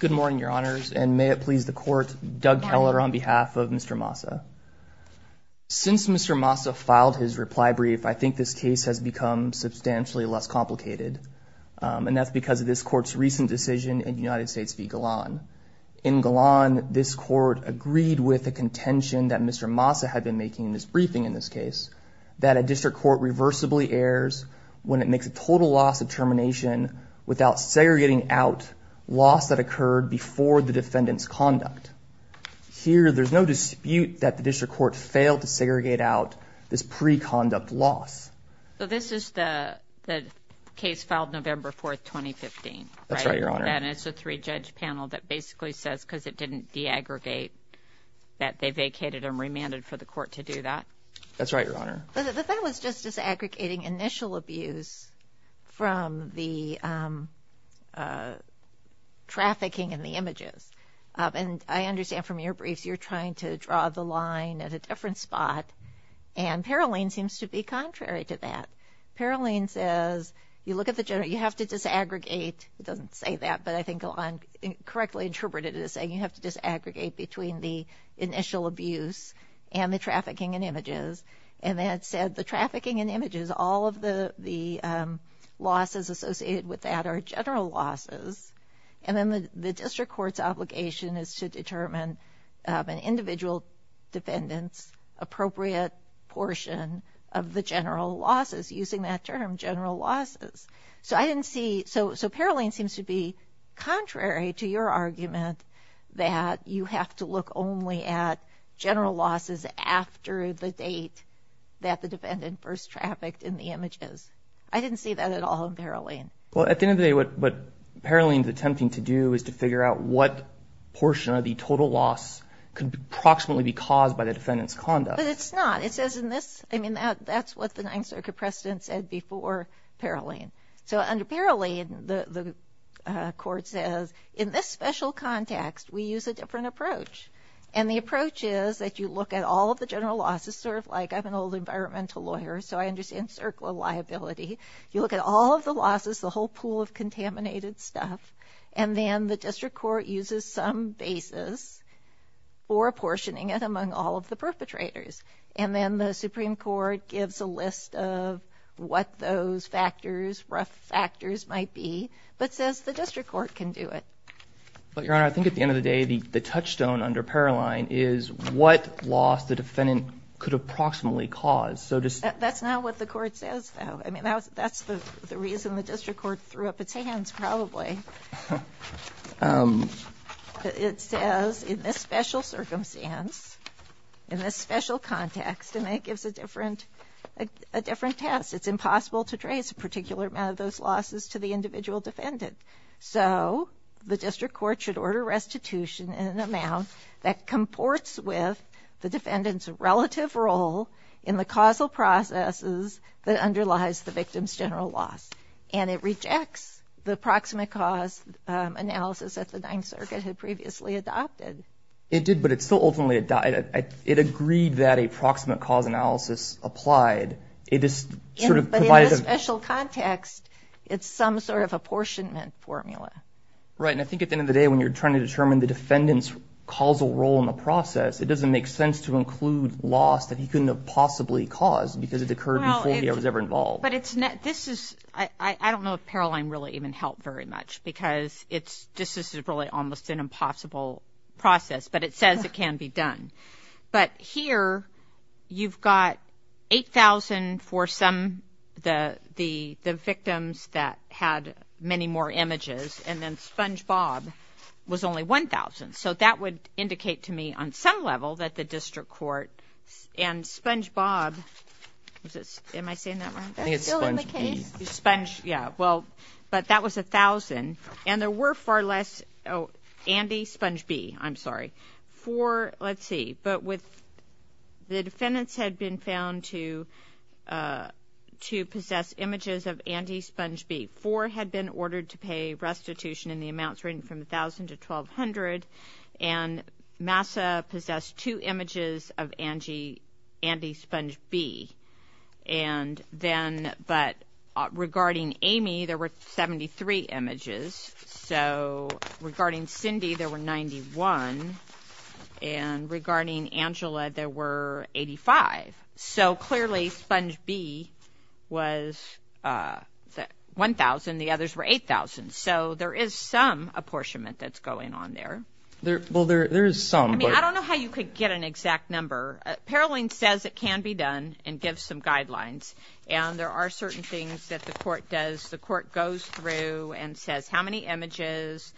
Good morning your honors and may it please the court Doug Keller on behalf of Mr. Massa. Since Mr. Massa filed his reply brief I think this case has become substantially less complicated and that's because of this court's recent decision in United States v. Galan. In Galan this court agreed with the contention that Mr. Massa had been making in this briefing in this case that a district court reversibly errs when it makes a total loss of loss that occurred before the defendant's conduct. Here there's no dispute that the district court failed to segregate out this pre-conduct loss. So this is the case filed November 4th 2015? That's right your honor. And it's a three-judge panel that basically says because it didn't de-aggregate that they vacated and remanded for the court to do that? That's right your honor. But the trafficking in the images and I understand from your briefs you're trying to draw the line at a different spot and Paroline seems to be contrary to that. Paroline says you look at the general you have to disaggregate it doesn't say that but I think Galan correctly interpreted it as saying you have to disaggregate between the initial abuse and the trafficking in images and that said the trafficking in images all of the the losses associated with that are general losses and then the district court's obligation is to determine an individual defendant's appropriate portion of the general losses using that term general losses. So I didn't see so so Paroline seems to be contrary to your argument that you have to look only at general losses after the date that the defendant first trafficked in the images. I didn't see that at all in Paroline. Well at the end of the day what Paroline is attempting to do is to figure out what portion of the total loss could approximately be caused by the defendant's conduct. But it's not it says in this I mean that that's what the Ninth Circuit precedent said before Paroline. So under Paroline the court says in this special context we use a different approach and the approach is that you look at all of the general losses sort of like I'm an old environmental lawyer so I understand circle of liability you look at all of the losses the whole pool of contaminated stuff and then the district court uses some basis for apportioning it among all of the perpetrators and then the Supreme Court gives a list of what those factors rough factors might be but says the district court can do it. But your honor I think at the end of the day the the touchstone under Paroline is what loss the defendant could approximately cause. So just that's not what the court says I mean that's that's the reason the district court threw up its hands probably. It says in this special circumstance in this special context and it gives a different a different test it's impossible to trace a particular amount of those losses to the individual defendant. So the district court should order restitution in an amount that comports with the defendant's relative role in the causal processes that underlies the victim's general loss and it rejects the proximate cause analysis that the Ninth Circuit had previously adopted. It did but it's still ultimately adopted. It agreed that a proximate cause analysis applied it is sort of provided. In a special context it's some sort of apportionment formula. Right I think at the end of the day when you're trying to determine the defendant's causal role in the process it doesn't make sense to include loss that he couldn't have possibly caused because it occurred before he was ever involved. But it's not this is I I don't know if Paroline really even helped very much because it's just this is really almost an impossible process but it says it can be done. But here you've got 8,000 for some the the the victims that had many more images and then SpongeBob was only 1,000 so that would indicate to me on some level that the district court and SpongeBob was it am I saying that right? I think it's SpongeB. Sponge yeah well but that was a thousand and there were far less oh Andy SpongeB I'm sorry for let's see but with the defendants had been found to to possess images of Andy SpongeB. Four had been ordered to pay restitution in the amounts ranging from 1,000 to 1,200 and Massa possessed two images of Andy SpongeB and then but regarding Amy there were 73 images so regarding Cindy there were 91 and regarding Angela there were 85. So there is some apportionment that's going on there. There well there is some I mean I don't know how you could get an exact number. Paroline says it can be done and give some guidelines and there are certain things that the court does the court goes through and says how many images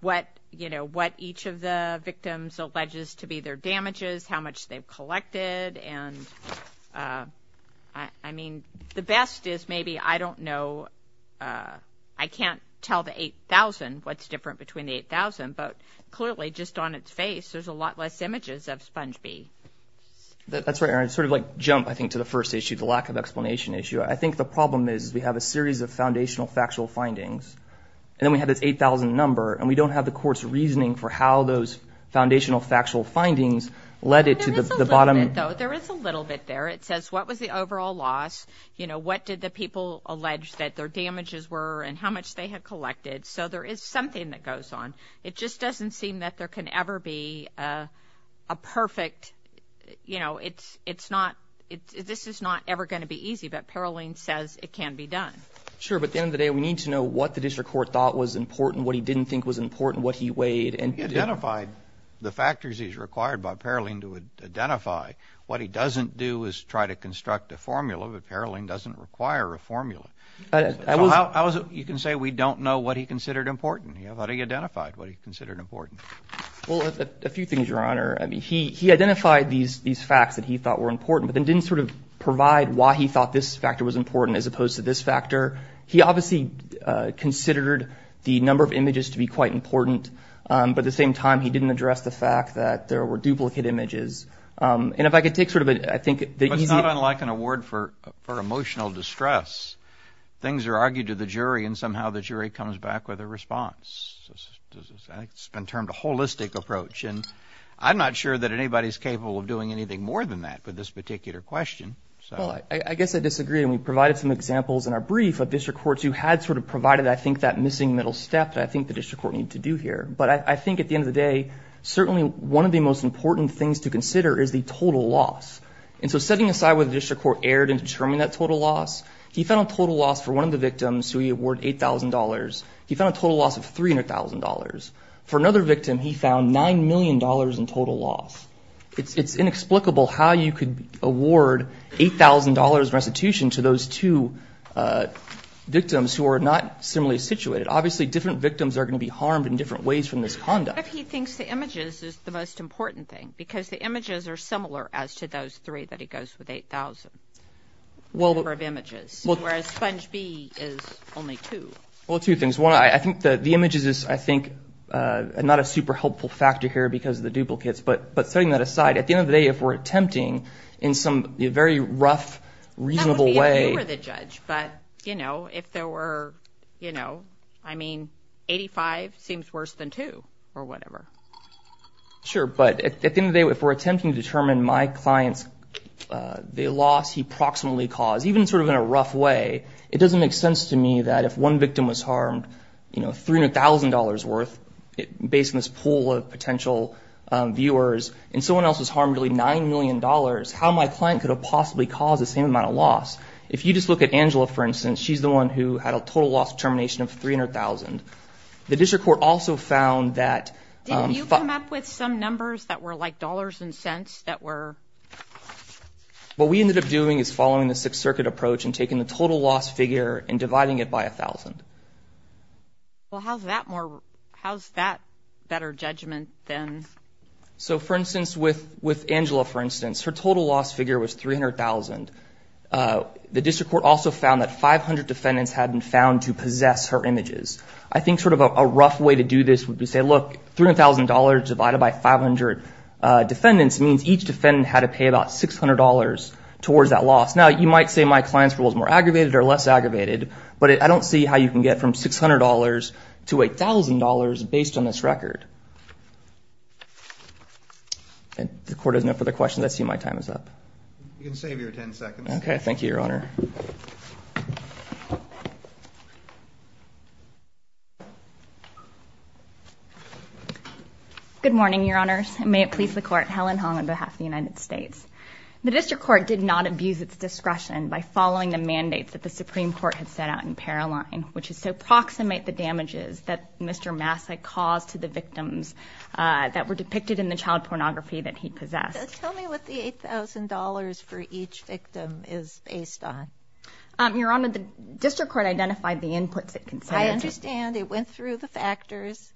what you know what each of the victims alleges to be their damages how much they've collected and I mean the best is maybe I don't know I can't tell the 8,000 what's different between 8,000 but clearly just on its face there's a lot less images of SpongeB. That's right Erin sort of like jump I think to the first issue the lack of explanation issue I think the problem is we have a series of foundational factual findings and then we have this 8,000 number and we don't have the courts reasoning for how those foundational factual findings led it to the bottom. There is a little bit there it says what was the overall loss you know what did the people allege that their damages were and how much they have collected so there is something that goes on it just doesn't seem that there can ever be a perfect you know it's it's not it this is not ever going to be easy but Paroline says it can be done. Sure but the end of the day we need to know what the district court thought was important what he didn't think was important what he weighed and he identified the factors he's required by Paroline to identify what he doesn't do is try to construct a formula but Paroline doesn't require a formula. I was you can say we don't know what he considered important he identified what he considered important. Well a few things your honor I mean he he identified these these facts that he thought were important but then didn't sort of provide why he thought this factor was important as opposed to this factor he obviously considered the number of images to be quite important but at the same time he didn't address the fact that there were duplicate images and if I could take sort of it I think it's not unlike an award for for emotional distress things are argued to the jury and somehow the jury comes back with a response it's been termed a holistic approach and I'm not sure that anybody's capable of doing anything more than that but this particular question so I guess I disagree and we provided some examples in our brief of district courts who had sort of provided I think that missing middle step I think the district court need to do here but I think at the end of the day certainly one of the most important things to consider is the total loss and so setting aside with the district court aired and determine that total loss he found total loss for one of the victims who he award $8,000 he found total loss of $300,000 for another victim he found nine million dollars in total loss it's it's inexplicable how you could award $8,000 restitution to those two victims who are not similarly situated obviously different victims are going to be harmed in different ways from this conduct if he thinks the images is the most important thing because the images are similar as to those three that he goes with 8,000 well we're of images well sponge B is only two well two things one I think the the images is I think not a super helpful factor here because of the duplicates but but setting that aside at the end of the day if we're attempting in some very rough reasonable way but you know if there were you know I mean 85 seems worse than two or whatever sure but at the end of day if we're attempting to determine my clients they lost he proximately cause even sort of in a rough way it doesn't make sense to me that if one victim was harmed you know $300,000 worth it based on this pool of potential viewers and someone else was harmed really nine million dollars how my client could have possibly caused the same amount of loss if you just look at Angela for instance she's the one who had a total loss termination of 300,000 the district court also found that you come up with some numbers that were like dollars and cents that were what we ended up doing is following the Sixth Circuit approach and taking the total loss figure and dividing it by a thousand well how's that more how's that better judgment then so for instance with with Angela for instance her total loss figure was 300,000 the district court also found that 500 defendants had been found to possess her images I think sort of a rough way to do this would be say look $300,000 divided by 500 defendants means each defendant had to pay about $600 towards that loss now you might say my clients rules more aggravated or less aggravated but I don't see how you can get from $600 to $1,000 based on this record and the court has no further questions I see my time is up okay thank you your honor good morning your honors may it please the court Helen Hong on behalf of the United States the district court did not abuse its discretion by following the mandates that the Supreme Court had set out in Paroline which is so proximate the damages that mr. Massey caused to the victims that were depicted in the child pornography that he possessed tell me what the $8,000 for each victim is based on your honor the district court identified the inputs it can say I understand it went through the factors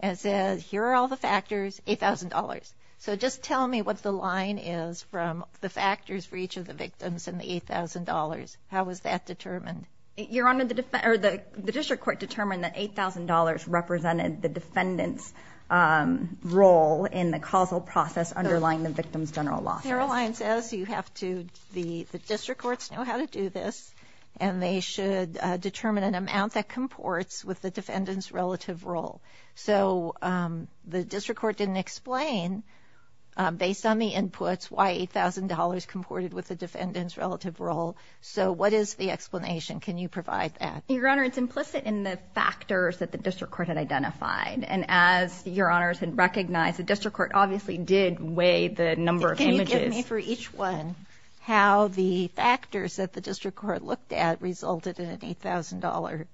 and says here are all the factors $8,000 so just tell me what the line is from the factors for each of the victims and the $8,000 how was that determined your honor the defender the district court determined that $8,000 represented the defendants role in the causal process underlying the victims general law Caroline says you have to the the district courts know how to do this and they should determine an amount that comports with the defendants relative role so the district court didn't explain based on the inputs why $8,000 comported with the defendants relative role so what is the explanation can you provide that your honor it's implicit in the factors that the district court had identified and as your honors had recognized the district court obviously did weigh the number of images for each one how the factors that the district court looked at resulted in an $8,000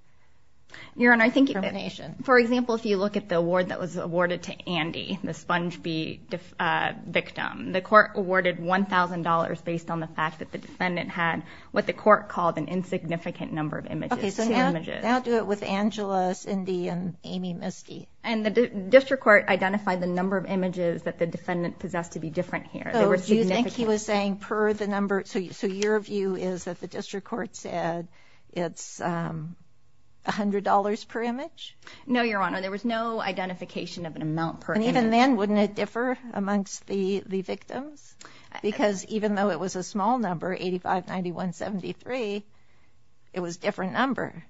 your honor I think information for example if you look at the award that was awarded to Andy the sponge be victim the court awarded $1,000 based on the fact that the defendant had what the court called an insignificant number of the district court identified the number of images that the defendant possessed to be different here he was saying per the number so your view is that the district court said it's $100 per image no your honor there was no identification of an amount per and even then wouldn't it differ amongst the the victims because even though it was a small number 85 91 73 it was different number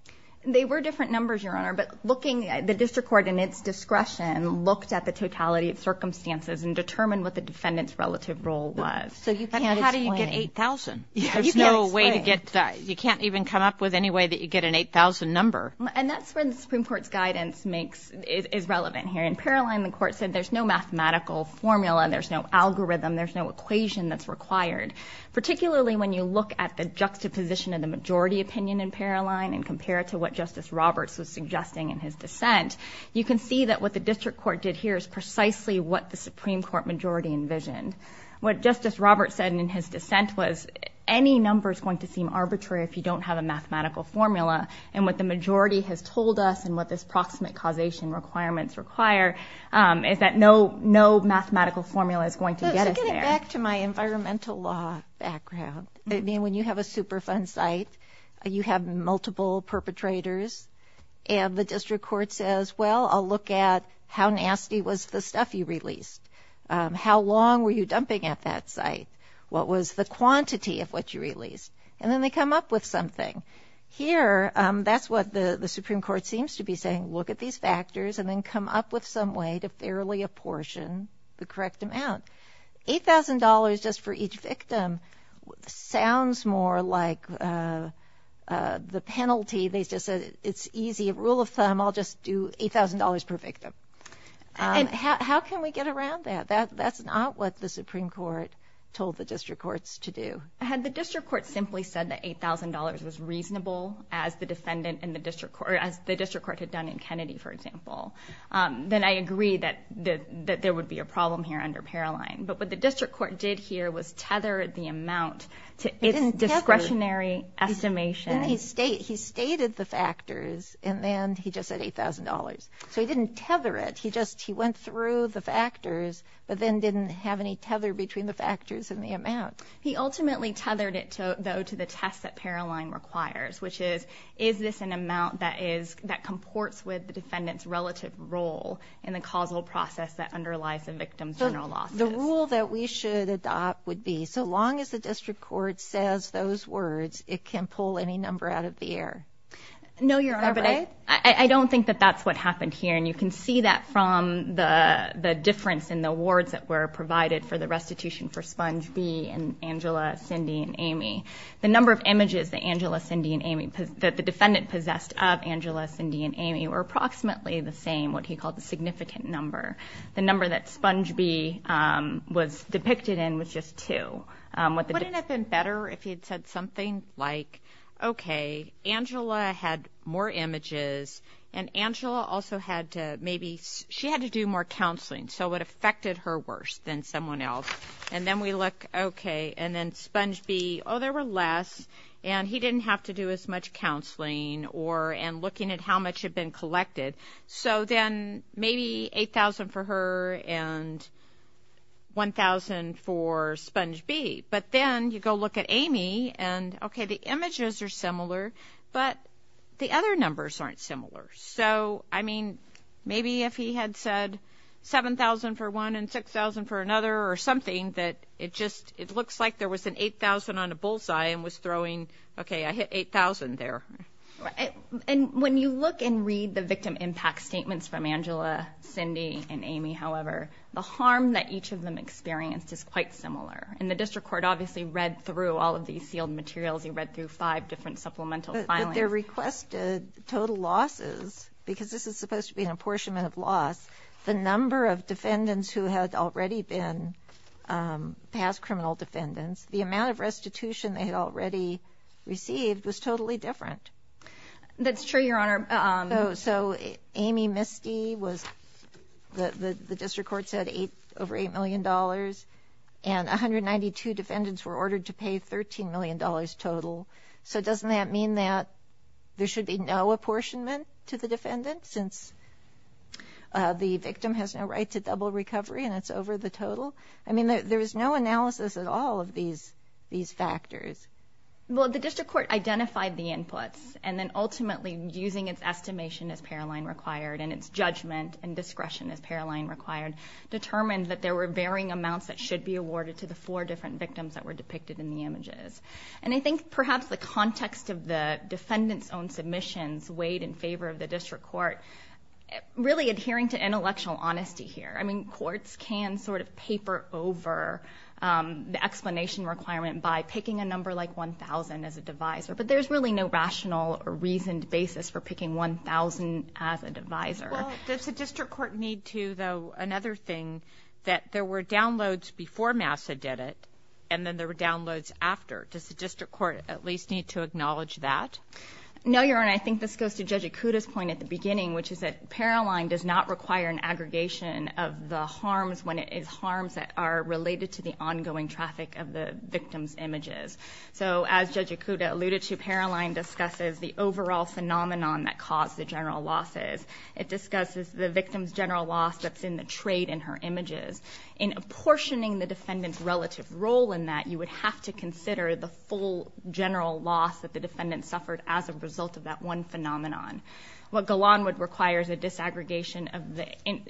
they were different numbers your honor but looking at the district court and its discretion looked at the totality of circumstances and determine what the defendants relative role was so you can't how do you get 8,000 there's no way to get that you can't even come up with any way that you get an 8,000 number and that's when the Supreme Court's guidance makes is relevant here in Paroline the court said there's no mathematical formula there's no algorithm there's no equation that's required particularly when you look at the juxtaposition of the majority opinion in Paroline and compare it to what Justice Roberts was suggesting in his dissent you can see that what the district court did here is precisely what the Supreme Court majority envisioned what Justice Roberts said in his dissent was any number is going to seem arbitrary if you don't have a mathematical formula and what the majority has told us and what this proximate causation requirements require is that no no mathematical formula is going to get it back to my environmental law background I mean when you have a Superfund site you have multiple perpetrators and the district court says well I'll look at how nasty was the stuff you released how long were you dumping at that site what was the quantity of what you released and then they come up with something here that's what the the Supreme Court seems to be saying look at these factors and then come up with some way to fairly apportion the correct amount $8,000 just for each victim sounds more like the penalty they just said it's easy rule of thumb I'll just do $8,000 per victim and how can we get around that that that's not what the Supreme Court told the district courts to do had the district court simply said that $8,000 was reasonable as the defendant in the district court as the district court had done in Kennedy for example then I agree that the that there would be a problem here under Paroline but what the district court did here was tethered the amount to its discretionary estimation he state he stated the factors and then he just said $8,000 so he didn't tether it he just he went through the factors but then didn't have any tether between the factors and the amount he ultimately tethered it to though to the test that Paroline requires which is is this an amount that is that comports with the defendant's relative role in the causal process that underlies the victim's the rule that we should adopt would be so long as the district court says those words it can pull any number out of the air no your honor but I I don't think that that's what happened here and you can see that from the the difference in the awards that were provided for the restitution for sponge B and Angela Cindy and Amy the number of images the Angela Cindy and Amy that the defendant possessed of Angela Cindy and Amy were approximately the same what he called a significant number the number that sponge B was depicted in was just to what the wouldn't have been better if he had said something like okay Angela had more images and Angela also had to maybe she had to do more counseling so what affected her worse than someone else and then we look okay and then sponge B oh there were less and he didn't have to do as much counseling or and looking at how much had been collected so then maybe 8,000 for her and 1,000 for sponge B but then you go look at Amy and okay the images are similar but the other numbers aren't similar so I mean maybe if he had said 7,000 for one and 6,000 for another or something that it just it looks like there was an 8,000 on a bullseye and was and read the victim impact statements from Angela Cindy and Amy however the harm that each of them experienced is quite similar and the district court obviously read through all of these sealed materials you read through five different supplemental finally they're requested total losses because this is supposed to be an apportionment of loss the number of defendants who had already been past criminal defendants the amount of restitution they had already received was totally different that's true your honor so Amy Misty was the the district court said eight over eight million dollars and 192 defendants were ordered to pay 13 million dollars total so doesn't that mean that there should be no apportionment to the defendant since the victim has no right to double recovery and it's over the total I mean there's no analysis at all of these these factors well the district court identified the inputs and then ultimately using its estimation as Paroline required and its judgment and discretion as Paroline required determined that there were varying amounts that should be awarded to the four different victims that were depicted in the images and I think perhaps the context of the defendants own submissions weighed in favor of the district court really adhering to intellectual honesty here I can sort of paper over the explanation requirement by picking a number like 1,000 as a divisor but there's really no rational or reasoned basis for picking 1,000 as a divisor there's a district court need to though another thing that there were downloads before Massa did it and then there were downloads after does the district court at least need to acknowledge that no you're and I think this goes to judge Akuta's point at the beginning which is that Paroline does not require an aggregation of the harms when it is harms that are related to the ongoing traffic of the victims images so as judge Akuta alluded to Paroline discusses the overall phenomenon that caused the general losses it discusses the victims general loss that's in the trade in her images in apportioning the defendant's relative role in that you would have to consider the full general loss that the defendant suffered as a result of that one phenomenon what along with requires a disaggregation of the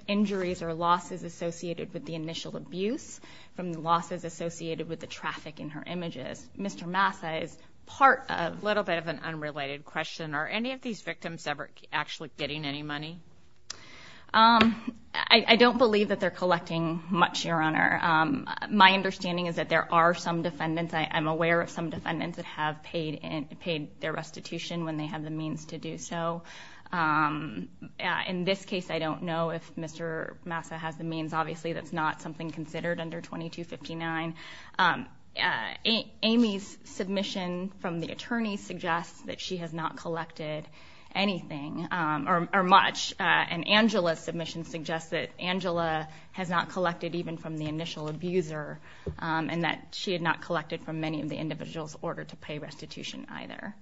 injuries or losses associated with the initial abuse from the losses associated with the traffic in her images Mr. Massa is part of little bit of an unrelated question are any of these victims ever actually getting any money I don't believe that they're collecting much your honor my understanding is that there are some defendants I am aware of some defendants that have paid and paid their to do so in this case I don't know if Mr. Massa has the means obviously that's not something considered under 2259 Amy's submission from the attorney suggests that she has not collected anything or much and Angela's submission suggests that Angela has not collected even from the initial abuser and that she had not collected from many of the individuals ordered to pay restitution either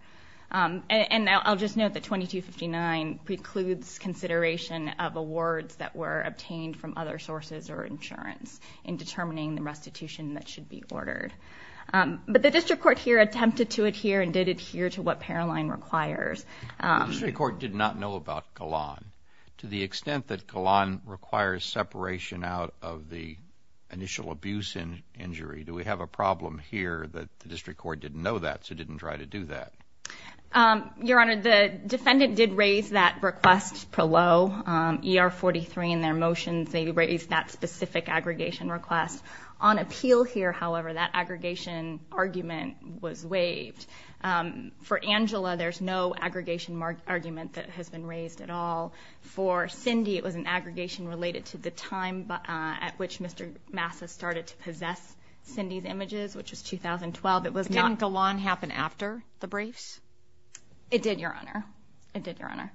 and I'll just note that 2259 precludes consideration of awards that were obtained from other sources or insurance in determining the restitution that should be ordered but the district court here attempted to adhere and did adhere to what Paroline requires the court did not know about Kalan to the extent that Kalan requires separation out of the initial abuse and injury do we have a problem here that the district court didn't know that so didn't try to do that your honor the defendant did raise that request per lo ER 43 in their motions they raised that specific aggregation request on appeal here however that aggregation argument was waived for Angela there's no aggregation mark argument that has been raised at all for Cindy it was an aggregation related to the time but at which mr. Massa started to possess Cindy's images which is 2012 it was going to go on happen after the briefs it did your honor it did your honor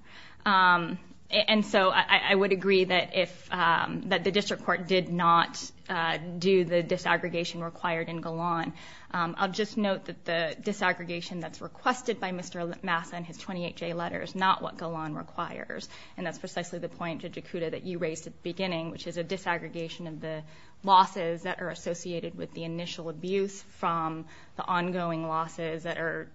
and so I would agree that if that the district court did not do the disaggregation required in Golan I'll just note that the disaggregation that's requested by mr. Massa and his 28 J letter is not what Golan requires and that's precisely the point to Dakota that you raised at the beginning which is a disaggregation of the losses that are associated with the ongoing losses that are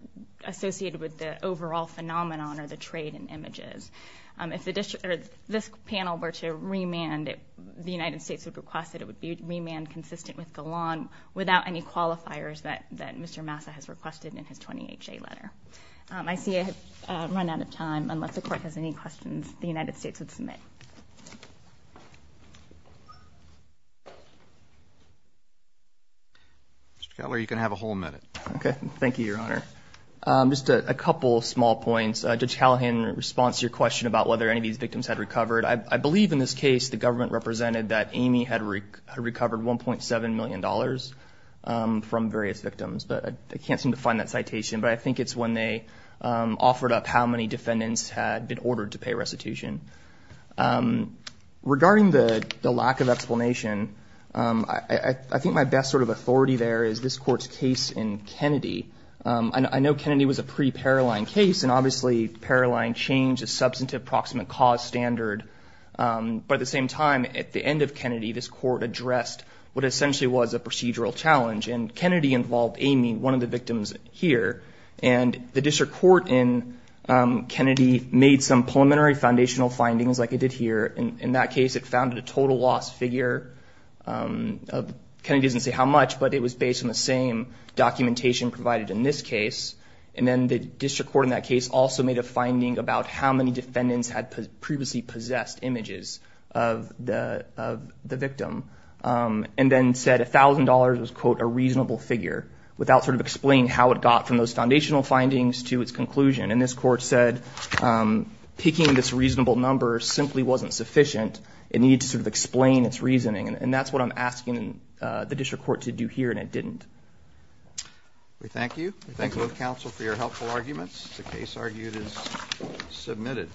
associated with the overall phenomenon or the trade in images if the district or this panel were to remand it the United States would request that it would be remand consistent with Golan without any qualifiers that that mr. Massa has requested in his 28 J letter I see a run out of time unless the court has any questions the United States would submit you can have a whole minute okay thank you your honor just a couple of small points to tell him in response to your question about whether any of these victims had recovered I believe in this case the government represented that Amy had recovered 1.7 million dollars from various victims but I can't seem to find that citation but I think it's when they offered up how many defendants had been ordered to pay restitution regarding the lack of explanation I think my best sort of authority there is this court's case in Kennedy and I know Kennedy was a pre-paralyzed case and obviously paralyzing change a substantive proximate cause standard but at the same time at the end of Kennedy this court addressed what essentially was a procedural challenge and Kennedy involved Amy one of the victims here and the district court in Kennedy made some preliminary foundational findings like I did here in that case it founded a total loss figure Kennedy doesn't say how much but it was based on the same documentation provided in this case and then the district court in that case also made a finding about how many defendants had previously possessed images of the victim and then said a thousand dollars was quote a reasonable figure without sort of explain how it got from those foundational findings to its conclusion and this court said picking this reasonable number simply wasn't sufficient it needed to sort of explain its reasoning and that's what I'm asking the district court to do here and it didn't we thank you thank you counsel for your helpful arguments the case argued is submitted